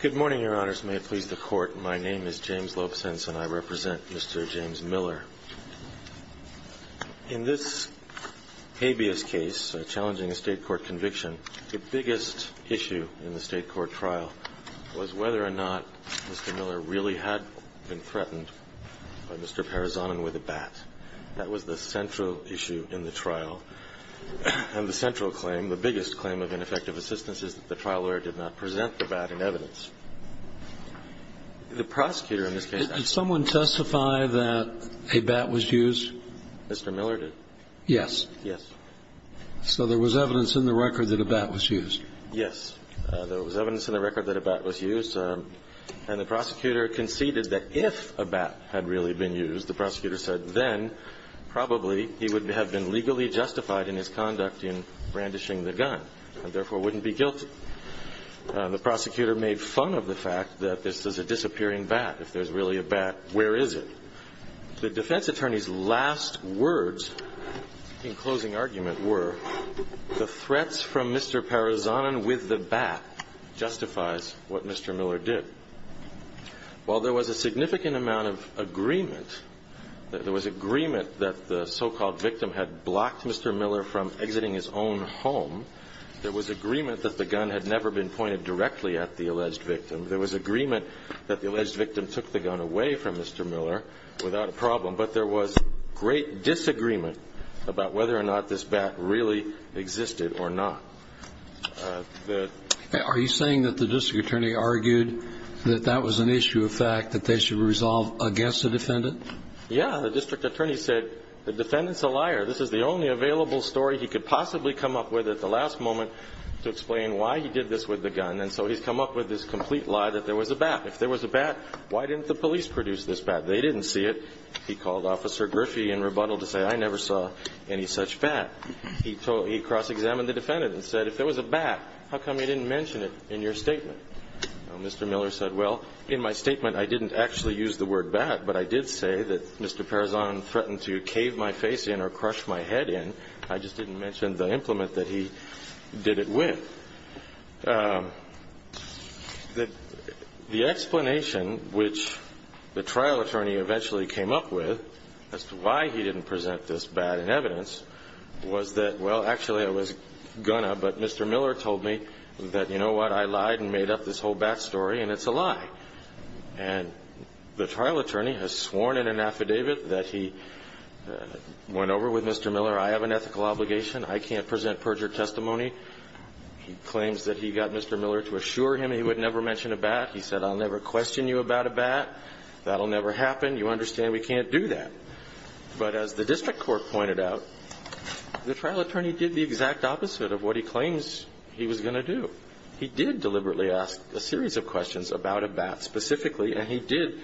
Good morning, Your Honors. May it please the Court, my name is James Lopesense and I represent Mr. James Miller. In this habeas case, challenging a State court conviction, the biggest issue in the State court trial was whether or not Mr. Miller really had been threatened by Mr. Parazonin with a bat. That was the central issue in the trial. And the central claim, the biggest claim of ineffective assistance, is that the trial lawyer did not present the bat in evidence. The prosecutor in this case... Did someone testify that a bat was used? Mr. Miller did. Yes. Yes. So there was evidence in the record that a bat was used. Yes. There was evidence in the record that a bat was used. And the prosecutor conceded that if a bat had really been used, the prosecutor said, then probably he would have been legally justified in his conduct in brandishing the gun and therefore wouldn't be guilty. The prosecutor made fun of the fact that this is a disappearing bat. If there's really a bat, where is it? The defense attorney's last words in closing argument were, the threats from Mr. Parazonin with the bat justifies what Mr. Miller did. While there was a significant amount of agreement, there was agreement that the so-called victim had blocked Mr. Miller from exiting his own home, there was agreement that the gun had never been pointed directly at the alleged victim. There was agreement that the alleged victim took the gun away from Mr. Miller without a problem, but there was great disagreement about whether or not this bat really existed or not. Are you saying that the district attorney argued that that was an issue of fact, that they should resolve against the defendant? Yeah. The district attorney said, the defendant's a liar. This is the only available story he could possibly come up with at the last moment to explain why he did this with the gun. And so he's come up with this complete lie that there was a bat. If there was a bat, why didn't the police produce this bat? They didn't see it. He called Officer Griffey in rebuttal to say, I never saw any such bat. He cross-examined the defendant and said, if there was a bat, how come you didn't mention it in your statement? Mr. Miller said, well, in my statement, I didn't actually use the word bat, but I did say that Mr. Parazonin threatened to cave my face in or crush my head in. I just didn't mention the implement that he did it with. The explanation which the trial attorney eventually came up with as to why he didn't present this bat in evidence was that, well, actually, I was going to, but Mr. Miller told me that, you know what, I lied and made up this whole bat story, and it's a lie. And the trial attorney has sworn in an affidavit that he went over with Mr. Miller, I have an ethical obligation, I can't present perjured testimony. He claims that he got Mr. Miller to assure him he would never mention a bat. He said, I'll never question you about a bat. That will never happen. You understand we can't do that. But as the district court pointed out, the trial attorney did the exact opposite of what he claims he was going to do. He did deliberately ask a series of questions about a bat specifically, and he did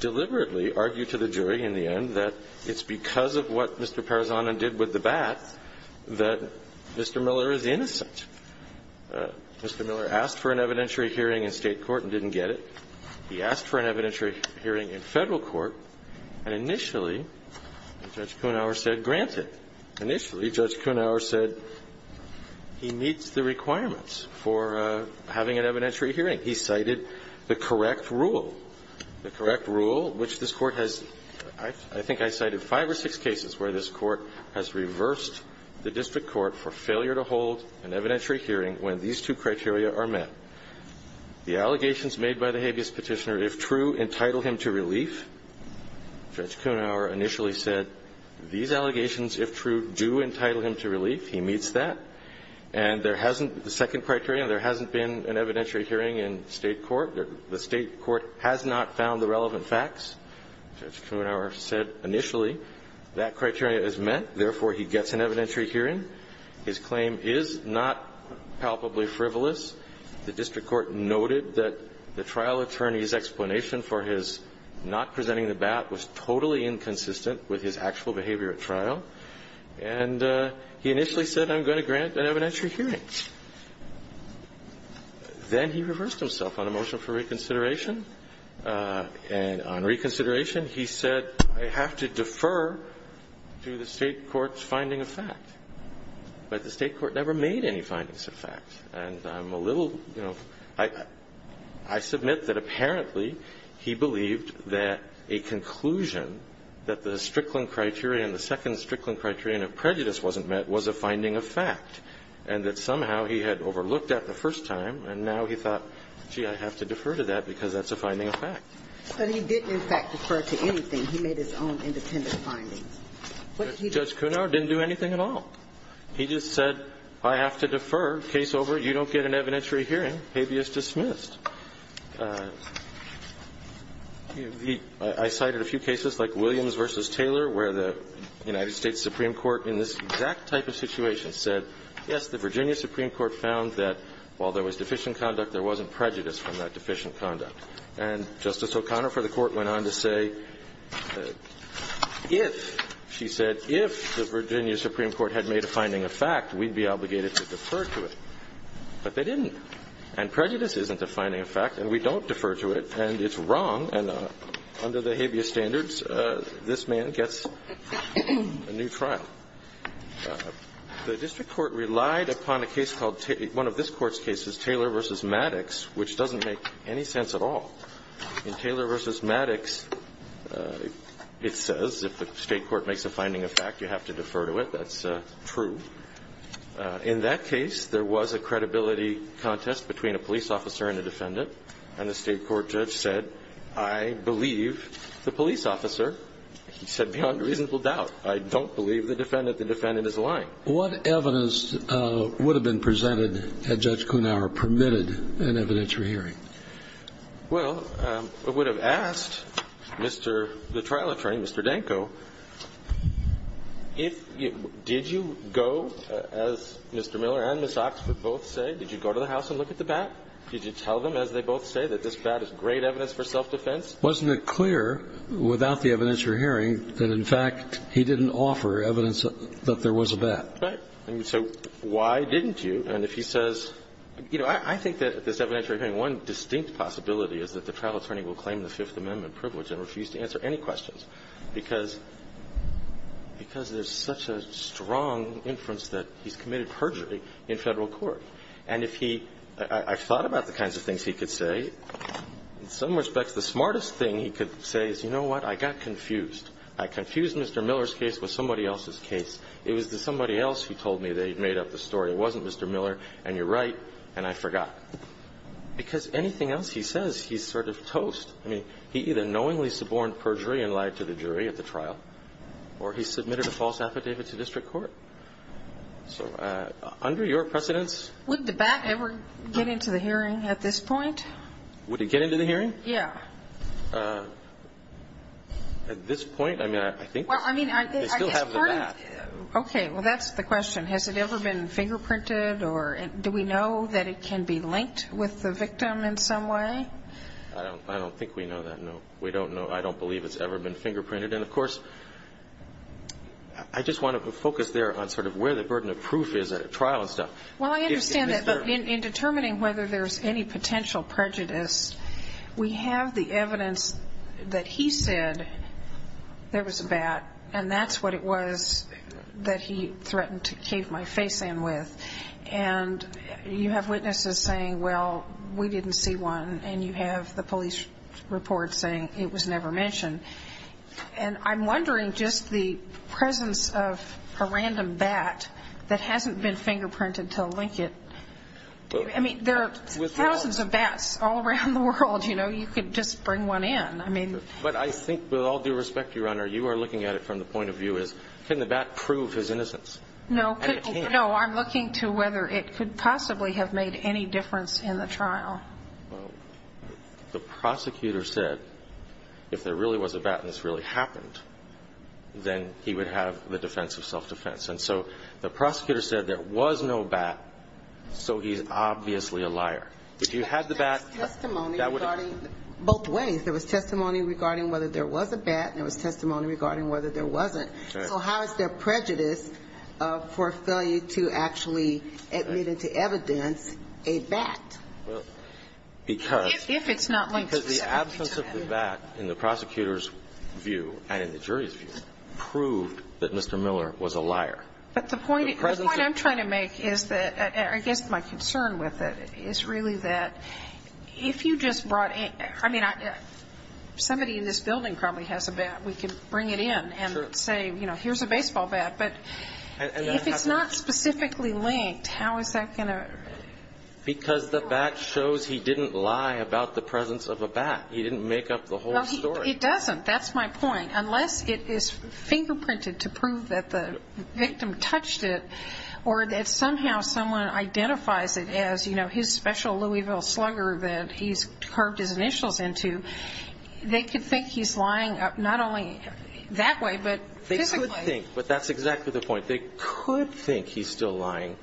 deliberately argue to the jury in the end that it's because of what Mr. Parazana did with the bat that Mr. Miller is innocent. Mr. Miller asked for an evidentiary hearing in State court and didn't get it. He asked for an evidentiary hearing in Federal court, and initially, Judge Kuenhauer said, grant it. Initially, Judge Kuenhauer said he meets the requirements for having an evidentiary hearing. He cited the correct rule. The correct rule, which this Court has, I think I cited five or six cases where this Court has reversed the district court for failure to hold an evidentiary hearing when these two criteria are met. The allegations made by the habeas petitioner, if true, entitle him to relief. Judge Kuenhauer initially said, these allegations, if true, do entitle him to relief. He meets that. And there hasn't been a second criterion. There hasn't been an evidentiary hearing in State court. The State court has not found the relevant facts. Judge Kuenhauer said initially that criteria is met. Therefore, he gets an evidentiary hearing. His claim is not palpably frivolous. The district court noted that the trial attorney's explanation for his not presenting the bat was totally inconsistent with his actual behavior at trial. And he initially said, I'm going to grant an evidentiary hearing. Then he reversed himself on a motion for reconsideration. And on reconsideration, he said, I have to defer to the State court's finding of fact. But the State court never made any findings of fact. And I'm a little, you know, I submit that apparently he believed that a conclusion that the Strickland criterion, the second Strickland criterion of prejudice wasn't met was a finding of fact. And that somehow he had overlooked that the first time, and now he thought, gee, I have to defer to that because that's a finding of fact. But he didn't, in fact, defer to anything. He made his own independent findings. Judge Kuenhauer didn't do anything at all. He just said, I have to defer, case over, you don't get an evidentiary hearing, habeas dismissed. I cited a few cases like Williams v. Taylor where the United States Supreme Court in this exact type of situation said, yes, the Virginia Supreme Court found that while there was deficient conduct, there wasn't prejudice from that deficient conduct. And Justice O'Connor for the Court went on to say, if, she said, if the Virginia Supreme Court had made a finding of fact, we'd be obligated to defer to it. But they didn't. And prejudice isn't a finding of fact, and we don't defer to it, and it's wrong, and under the habeas standards, this man gets a new trial. The district court relied upon a case called, one of this court's cases, Taylor v. Maddox, which doesn't make any sense at all. In Taylor v. Maddox, it says if the state court makes a finding of fact, you have to defer to it. That's true. In that case, there was a credibility contest between a police officer and a defendant, and the state court judge said, I believe the police officer. He said, beyond reasonable doubt. I don't believe the defendant. The defendant is lying. What evidence would have been presented had Judge Kuenhauer permitted an evidentiary hearing? Well, it would have asked Mr. the trial attorney, Mr. Danko, did you go, as Mr. Miller and Ms. Oxford both said, did you go to the house and look at the bat? Did you tell them, as they both say, that this bat is great evidence for self-defense? Wasn't it clear without the evidentiary hearing that, in fact, he didn't offer evidence that there was a bat? Right. So why didn't you? And if he says, you know, I think that this evidentiary hearing, one distinct possibility is that the trial attorney will claim the Fifth Amendment privilege and refuse to answer any questions, because there's such a strong inference that he's committed perjury in Federal court. And if he – I've thought about the kinds of things he could say. In some respects, the smartest thing he could say is, you know what, I got confused. I confused Mr. Miller's case with somebody else's case. It was somebody else who told me that he'd made up the story. It wasn't Mr. Miller, and you're right, and I forgot. Because anything else he says, he's sort of toast. I mean, he either knowingly suborned perjury and lied to the jury at the trial, or he submitted a false affidavit to district court. So under your precedence? Would the bat ever get into the hearing at this point? Would it get into the hearing? Yeah. At this point, I mean, I think they still have the bat. Okay. Well, that's the question. Has it ever been fingerprinted, or do we know that it can be linked with the victim in some way? I don't think we know that, no. We don't know. I don't believe it's ever been fingerprinted. And, of course, I just want to focus there on sort of where the burden of proof is at a trial and stuff. Well, I understand that. But in determining whether there's any potential prejudice, we have the evidence that he said there was a bat, and that's what it was that he threatened to cave my face in with. And you have witnesses saying, well, we didn't see one, and you have the police report saying it was never mentioned. And I'm wondering just the presence of a random bat that hasn't been fingerprinted to link it. I mean, there are thousands of bats all around the world. You know, you could just bring one in. But I think with all due respect, Your Honor, you are looking at it from the point of view as can the bat prove his innocence? No, I'm looking to whether it could possibly have made any difference in the trial. Well, the prosecutor said if there really was a bat and this really happened, then he would have the defense of self-defense. And so the prosecutor said there was no bat, so he's obviously a liar. If you had the bat, that would have been. There was testimony regarding both ways. There was testimony regarding whether there was a bat, and there was testimony regarding whether there wasn't. So how is there prejudice for failure to actually admit into evidence a bat? If it's not linked specifically to that. Because the absence of the bat in the prosecutor's view and in the jury's view proved that Mr. Miller was a liar. But the point I'm trying to make is that I guess my concern with it is really that if you just brought in – I mean, somebody in this building probably has a bat. We could bring it in and say, you know, here's a baseball bat. But if it's not specifically linked, how is that going to? Because the bat shows he didn't lie about the presence of a bat. He didn't make up the whole story. It doesn't. That's my point. Unless it is fingerprinted to prove that the victim touched it or that somehow someone identifies it as his special Louisville slugger that he's carved his initials into, they could think he's lying not only that way but physically. They could think, but that's exactly the point. They could think he's still lying.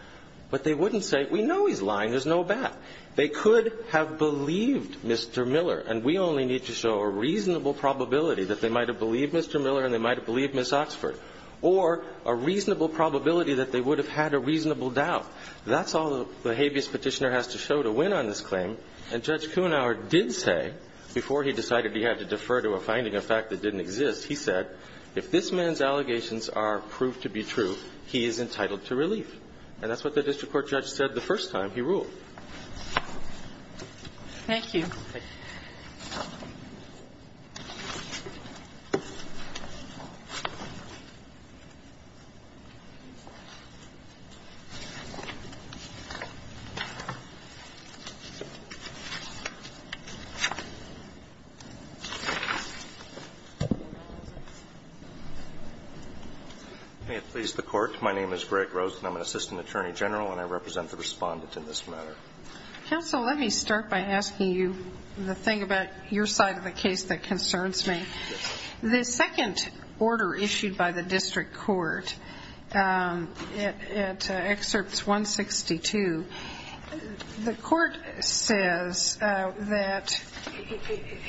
But they wouldn't say, we know he's lying. There's no bat. They could have believed Mr. Miller. And we only need to show a reasonable probability that they might have believed Mr. Miller and they might have believed Ms. Oxford, or a reasonable probability that they would have had a reasonable doubt. That's all the habeas petitioner has to show to win on this claim. And Judge Kuenhauer did say, before he decided he had to defer to a finding of fact that didn't exist, he said, if this man's allegations are proved to be true, he is entitled to relief. And that's what the district court judge said the first time he ruled. Thank you. May it please the Court. My name is Greg Rosen. I'm an assistant attorney general and I represent the Respondent in this matter. Counsel, let me start by asking you the thing about your side of the case that concerns me. The second order issued by the district court at Excerpts 162, the court says that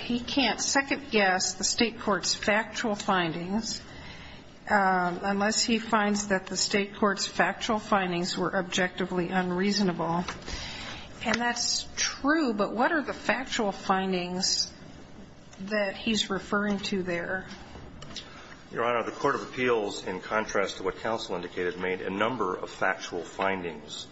he can't second guess the state court's factual findings unless he finds that the state court's factual findings were objectively unreasonable. And that's true, but what are the factual findings that he's referring to there? Your Honor, the court of appeals, in contrast to what counsel indicated, made a number of factual findings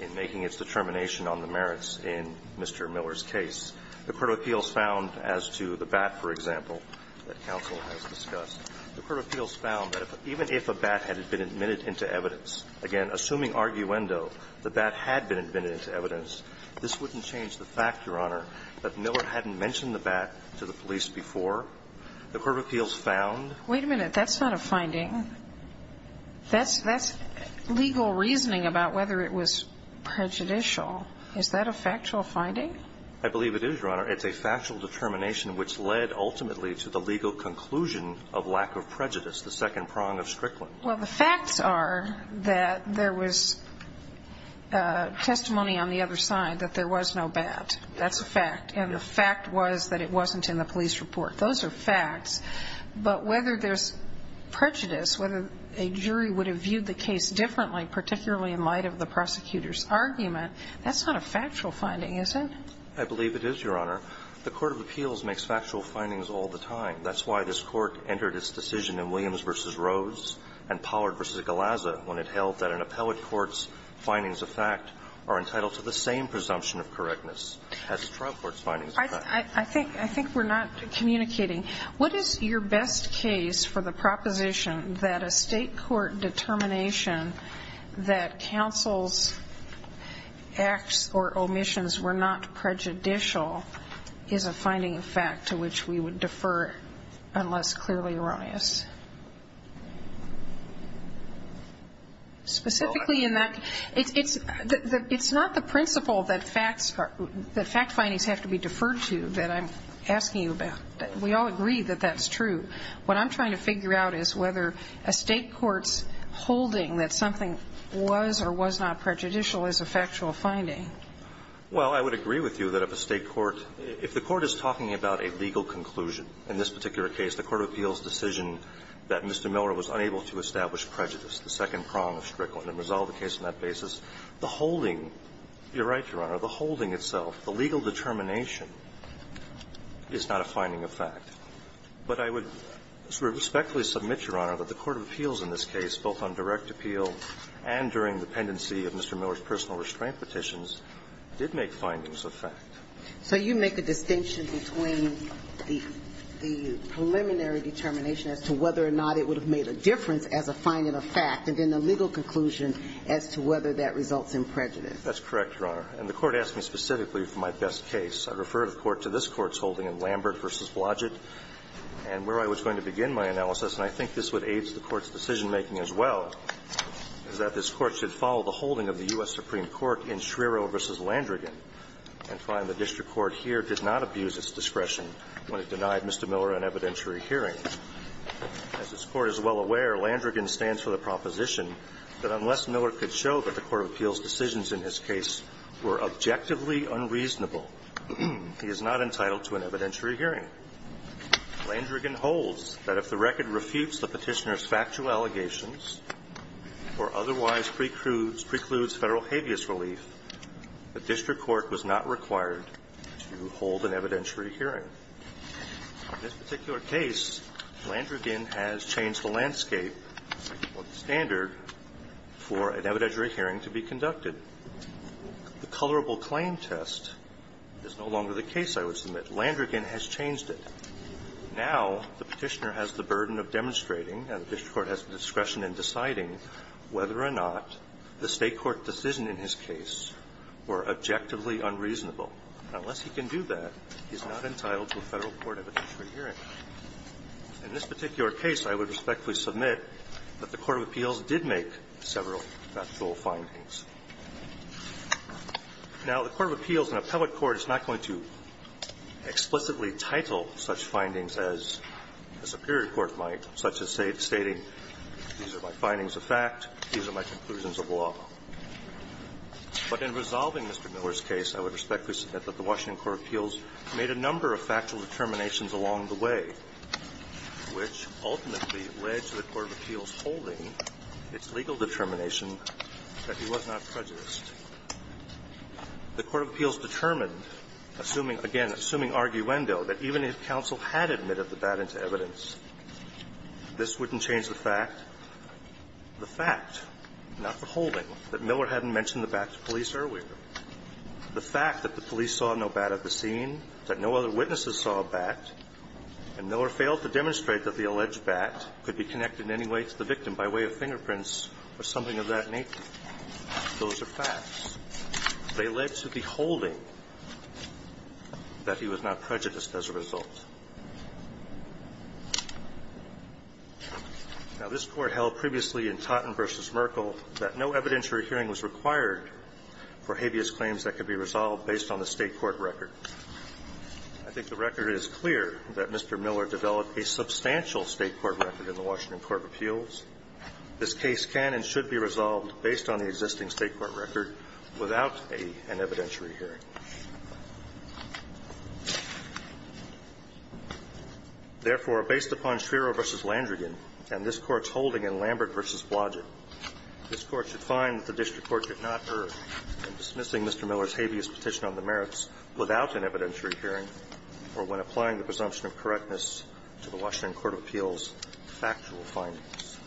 in making its determination on the merits in Mr. Miller's case. The court of appeals found, as to the bat, for example, that counsel has discussed, the court of appeals found that even if a bat had been admitted into evidence, again, assuming arguendo, the bat had been admitted into evidence, this wouldn't change the fact, Your Honor, that Miller hadn't mentioned the bat to the police The court of appeals found that the bat had been admitted into evidence. Wait a minute. That's not a finding. That's legal reasoning about whether it was prejudicial. Is that a factual finding? I believe it is, Your Honor. It's a factual determination which led ultimately to the legal conclusion of lack of prejudice, the second prong of Strickland. Well, the facts are that there was testimony on the other side that there was no bat. That's a fact. And the fact was that it wasn't in the police report. Those are facts. But whether there's prejudice, whether a jury would have viewed the case differently, particularly in light of the prosecutor's argument, that's not a factual finding, is it? I believe it is, Your Honor. The court of appeals makes factual findings all the time. That's why this Court entered its decision in Williams v. Rose and Pollard v. Galazza when it held that an appellate court's findings of fact are entitled to the same presumption of correctness as a trial court's findings of fact. I think we're not communicating. What is your best case for the proposition that a state court determination that counsel's acts or omissions were not prejudicial is a finding of fact to which we would defer unless clearly erroneous? Specifically in that, it's not the principle that fact findings have to be deferred to that I'm asking you about. We all agree that that's true. What I'm trying to figure out is whether a state court's holding that something was or was not prejudicial is a factual finding. Well, I would agree with you that if a state court – if the court is talking about a legal conclusion, in this particular case, the court of appeals decision that Mr. Miller was unable to establish prejudice, the second prong of Strickland and resolved the case on that basis, the holding – you're right, Your Honor – the holding itself, the legal determination is not a finding of fact. But I would respectfully submit, Your Honor, that the court of appeals in this case, both on direct appeal and during the pendency of Mr. Miller's personal restraint petitions, did make findings of fact. So you make a distinction between the preliminary determination as to whether or not it would have made a difference as a finding of fact and then the legal conclusion as to whether that results in prejudice. That's correct, Your Honor. And the court asked me specifically for my best case. I refer, of course, to this Court's holding in Lambert v. Blodgett. And where I was going to begin my analysis, and I think this would aid the Court's decision-making as well, is that this Court should follow the holding of the U.S. Supreme Court in Schriero v. Landrigan and find the district court here did not abuse its discretion when it denied Mr. Miller an evidentiary hearing. As this Court is well aware, Landrigan stands for the proposition that unless Miller could show that the court of appeals decisions in his case were objectively unreasonable, he is not entitled to an evidentiary hearing. Landrigan holds that if the record refutes the Petitioner's factual allegations or otherwise precludes Federal habeas relief, the district court was not required to hold an evidentiary hearing. In this particular case, Landrigan has changed the landscape, or the standard, for an evidentiary hearing to be conducted. The colorable claim test is no longer the case, I would submit. Landrigan has changed it. Now the Petitioner has the burden of demonstrating, and the district court has the discretion in deciding, whether or not the State court decision in his case were objectively unreasonable. Unless he can do that, he's not entitled to a Federal court evidentiary hearing. In this particular case, I would respectfully submit that the court of appeals did make several factual findings. Now, the court of appeals in a public court is not going to explicitly title such findings as the superior court might, such as stating, these are my findings of fact, these are my conclusions of law. But in resolving Mr. Miller's case, I would respectfully submit that the Washington District Court of Appeals made a number of factual determinations along the way, which ultimately led to the court of appeals holding its legal determination that he was not prejudiced. The court of appeals determined, assuming, again, assuming arguendo, that even if counsel had admitted the bat into evidence, this wouldn't change the fact. The fact, not the holding, that Miller hadn't mentioned the bat to police earlier. The fact that the police saw no bat at the scene, that no other witnesses saw a bat, and Miller failed to demonstrate that the alleged bat could be connected in any way to the victim by way of fingerprints or something of that nature, those are facts. They led to the holding that he was not prejudiced as a result. Now, this Court held previously in Totten v. Merkel that no evidentiary hearing was required for habeas claims that could be resolved based on the State court record. I think the record is clear that Mr. Miller developed a substantial State court record in the Washington Court of Appeals. This case can and should be resolved based on the existing State court record without a an evidentiary hearing. Therefore, based upon Schwerer v. Landrigan and this Court's holding in Lambert v. Blodgett, this Court should find that the district court did not err in dismissing Mr. Miller's habeas petition on the merits without an evidentiary hearing or when applying the presumption of correctness to the Washington Court of Appeals factual findings.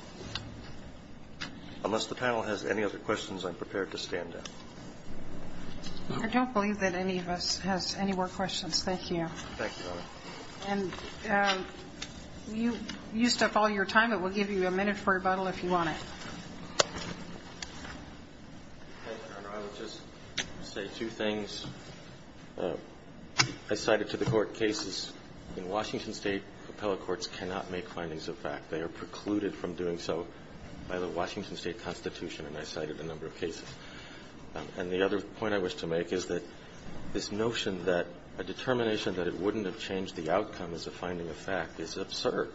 Unless the panel has any other questions, I'm prepared to stand down. I don't believe that any of us has any more questions. Thank you. Thank you, Your Honor. And you used up all your time. It will give you a minute for rebuttal if you want it. Okay, Your Honor. I would just say two things. I cited to the Court cases. In Washington State, appellate courts cannot make findings of fact. They are precluded from doing so by the Washington State Constitution, and I cited a number of cases. And the other point I wish to make is that this notion that a determination that it wouldn't have changed the outcome as a finding of fact is absurd.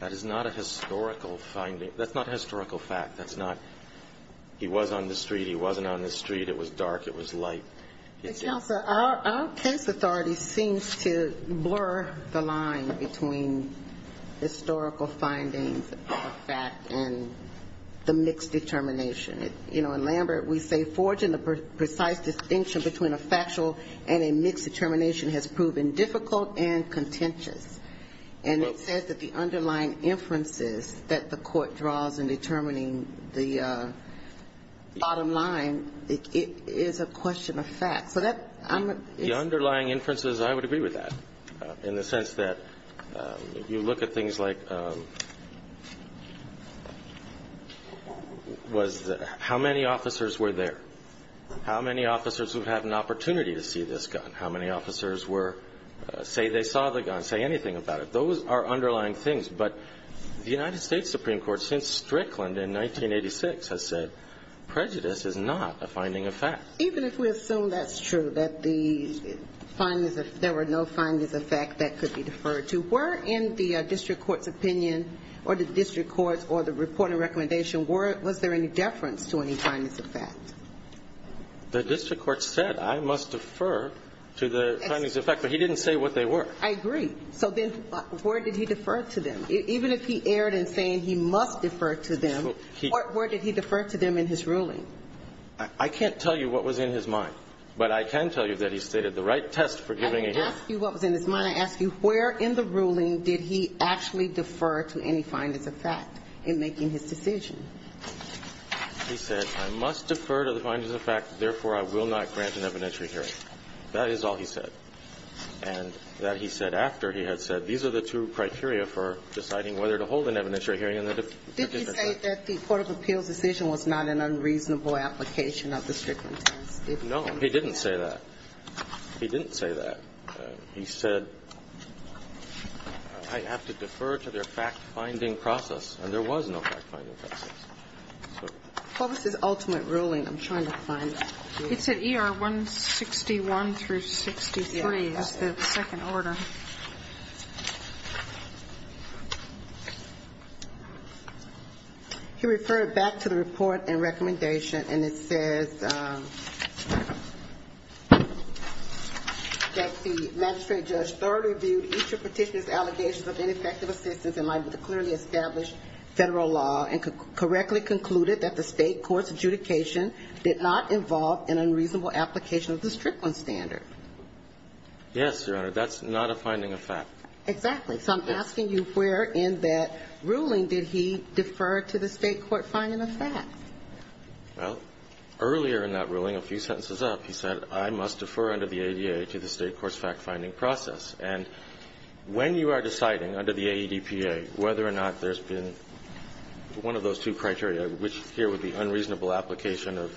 That is not a historical finding. That's not historical fact. That's not he was on the street, he wasn't on the street, it was dark, it was light. But, Counselor, our case authority seems to blur the line between historical findings of fact and the mixed determination. You know, in Lambert, we say forging the precise distinction between a factual and a mixed determination has proven difficult and contentious. And it says that the underlying inferences that the Court draws in determining the bottom line is a question of fact. So that's my question. The underlying inferences, I would agree with that in the sense that you look at things like how many officers were there, how many officers would have an opportunity to see this gun, how many officers say they saw the gun, say anything about it. Those are underlying things. But the United States Supreme Court, since Strickland in 1986, has said prejudice is not a finding of fact. Even if we assume that's true, that there were no findings of fact that could be deferred to, were in the district court's opinion or the district court's or the reporting recommendation, was there any deference to any findings of fact? The district court said, I must defer to the findings of fact. But he didn't say what they were. I agree. So then where did he defer to them? Even if he erred in saying he must defer to them, where did he defer to them in his ruling? I can't tell you what was in his mind. But I can tell you that he stated the right test for giving a hearing. I didn't ask you what was in his mind. I asked you where in the ruling did he actually defer to any findings of fact in making his decision. He said, I must defer to the findings of fact. Therefore, I will not grant an evidentiary hearing. That is all he said. And that he said after he had said, these are the two criteria for deciding whether to hold an evidentiary hearing in the district court. Did he say that the court of appeals decision was not an unreasonable application of the Strickland test? No, he didn't say that. He didn't say that. He said, I have to defer to their fact-finding process. And there was no fact-finding process. What was his ultimate ruling? I'm trying to find it. He said ER 161 through 63 is the second order. He referred back to the report and recommendation, and it says that the magistrate judge thoroughly reviewed each of the Petitioner's allegations of ineffective assistance in line with the clearly established Federal law and correctly concluded that the State court's adjudication did not involve an unreasonable application of the Strickland standard. Yes, Your Honor. That's not a finding of fact. Exactly. So I'm asking you where in that ruling did he defer to the State court finding of fact? Well, earlier in that ruling, a few sentences up, he said, I must defer under the ADA to the State court's fact-finding process. And when you are deciding under the AEDPA whether or not there's been one of those two criteria, which here would be unreasonable application of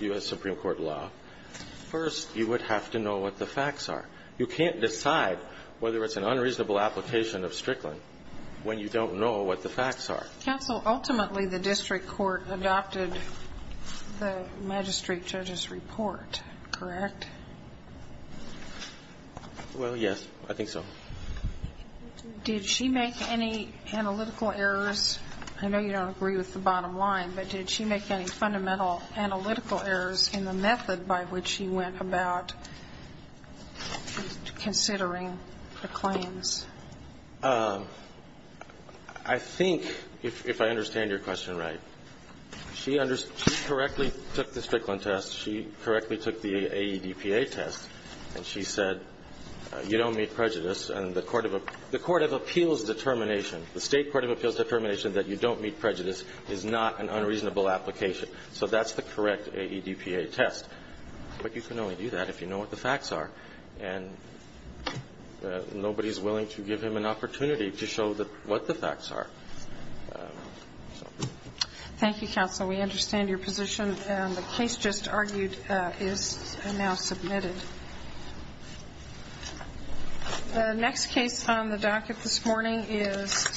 U.S. Supreme Court law, first, you would have to know what the facts are. You can't decide whether it's an unreasonable application of Strickland when you don't know what the facts are. Counsel, ultimately, the district court adopted the magistrate judge's report, correct? Well, yes. I think so. Did she make any analytical errors? I know you don't agree with the bottom line, but did she make any fundamental analytical errors in the method by which she went about considering the claims? I think, if I understand your question right, she correctly took the Strickland test, she correctly took the AEDPA test, and she said, you don't meet prejudice and the court of appeals determination, the State court of appeals determination that you don't meet prejudice is not an unreasonable application. So that's the correct AEDPA test. But you can only do that if you know what the facts are. And nobody is willing to give him an opportunity to show what the facts are. Thank you, counsel. We understand your position. The case just argued is now submitted. The next case on the docket this morning is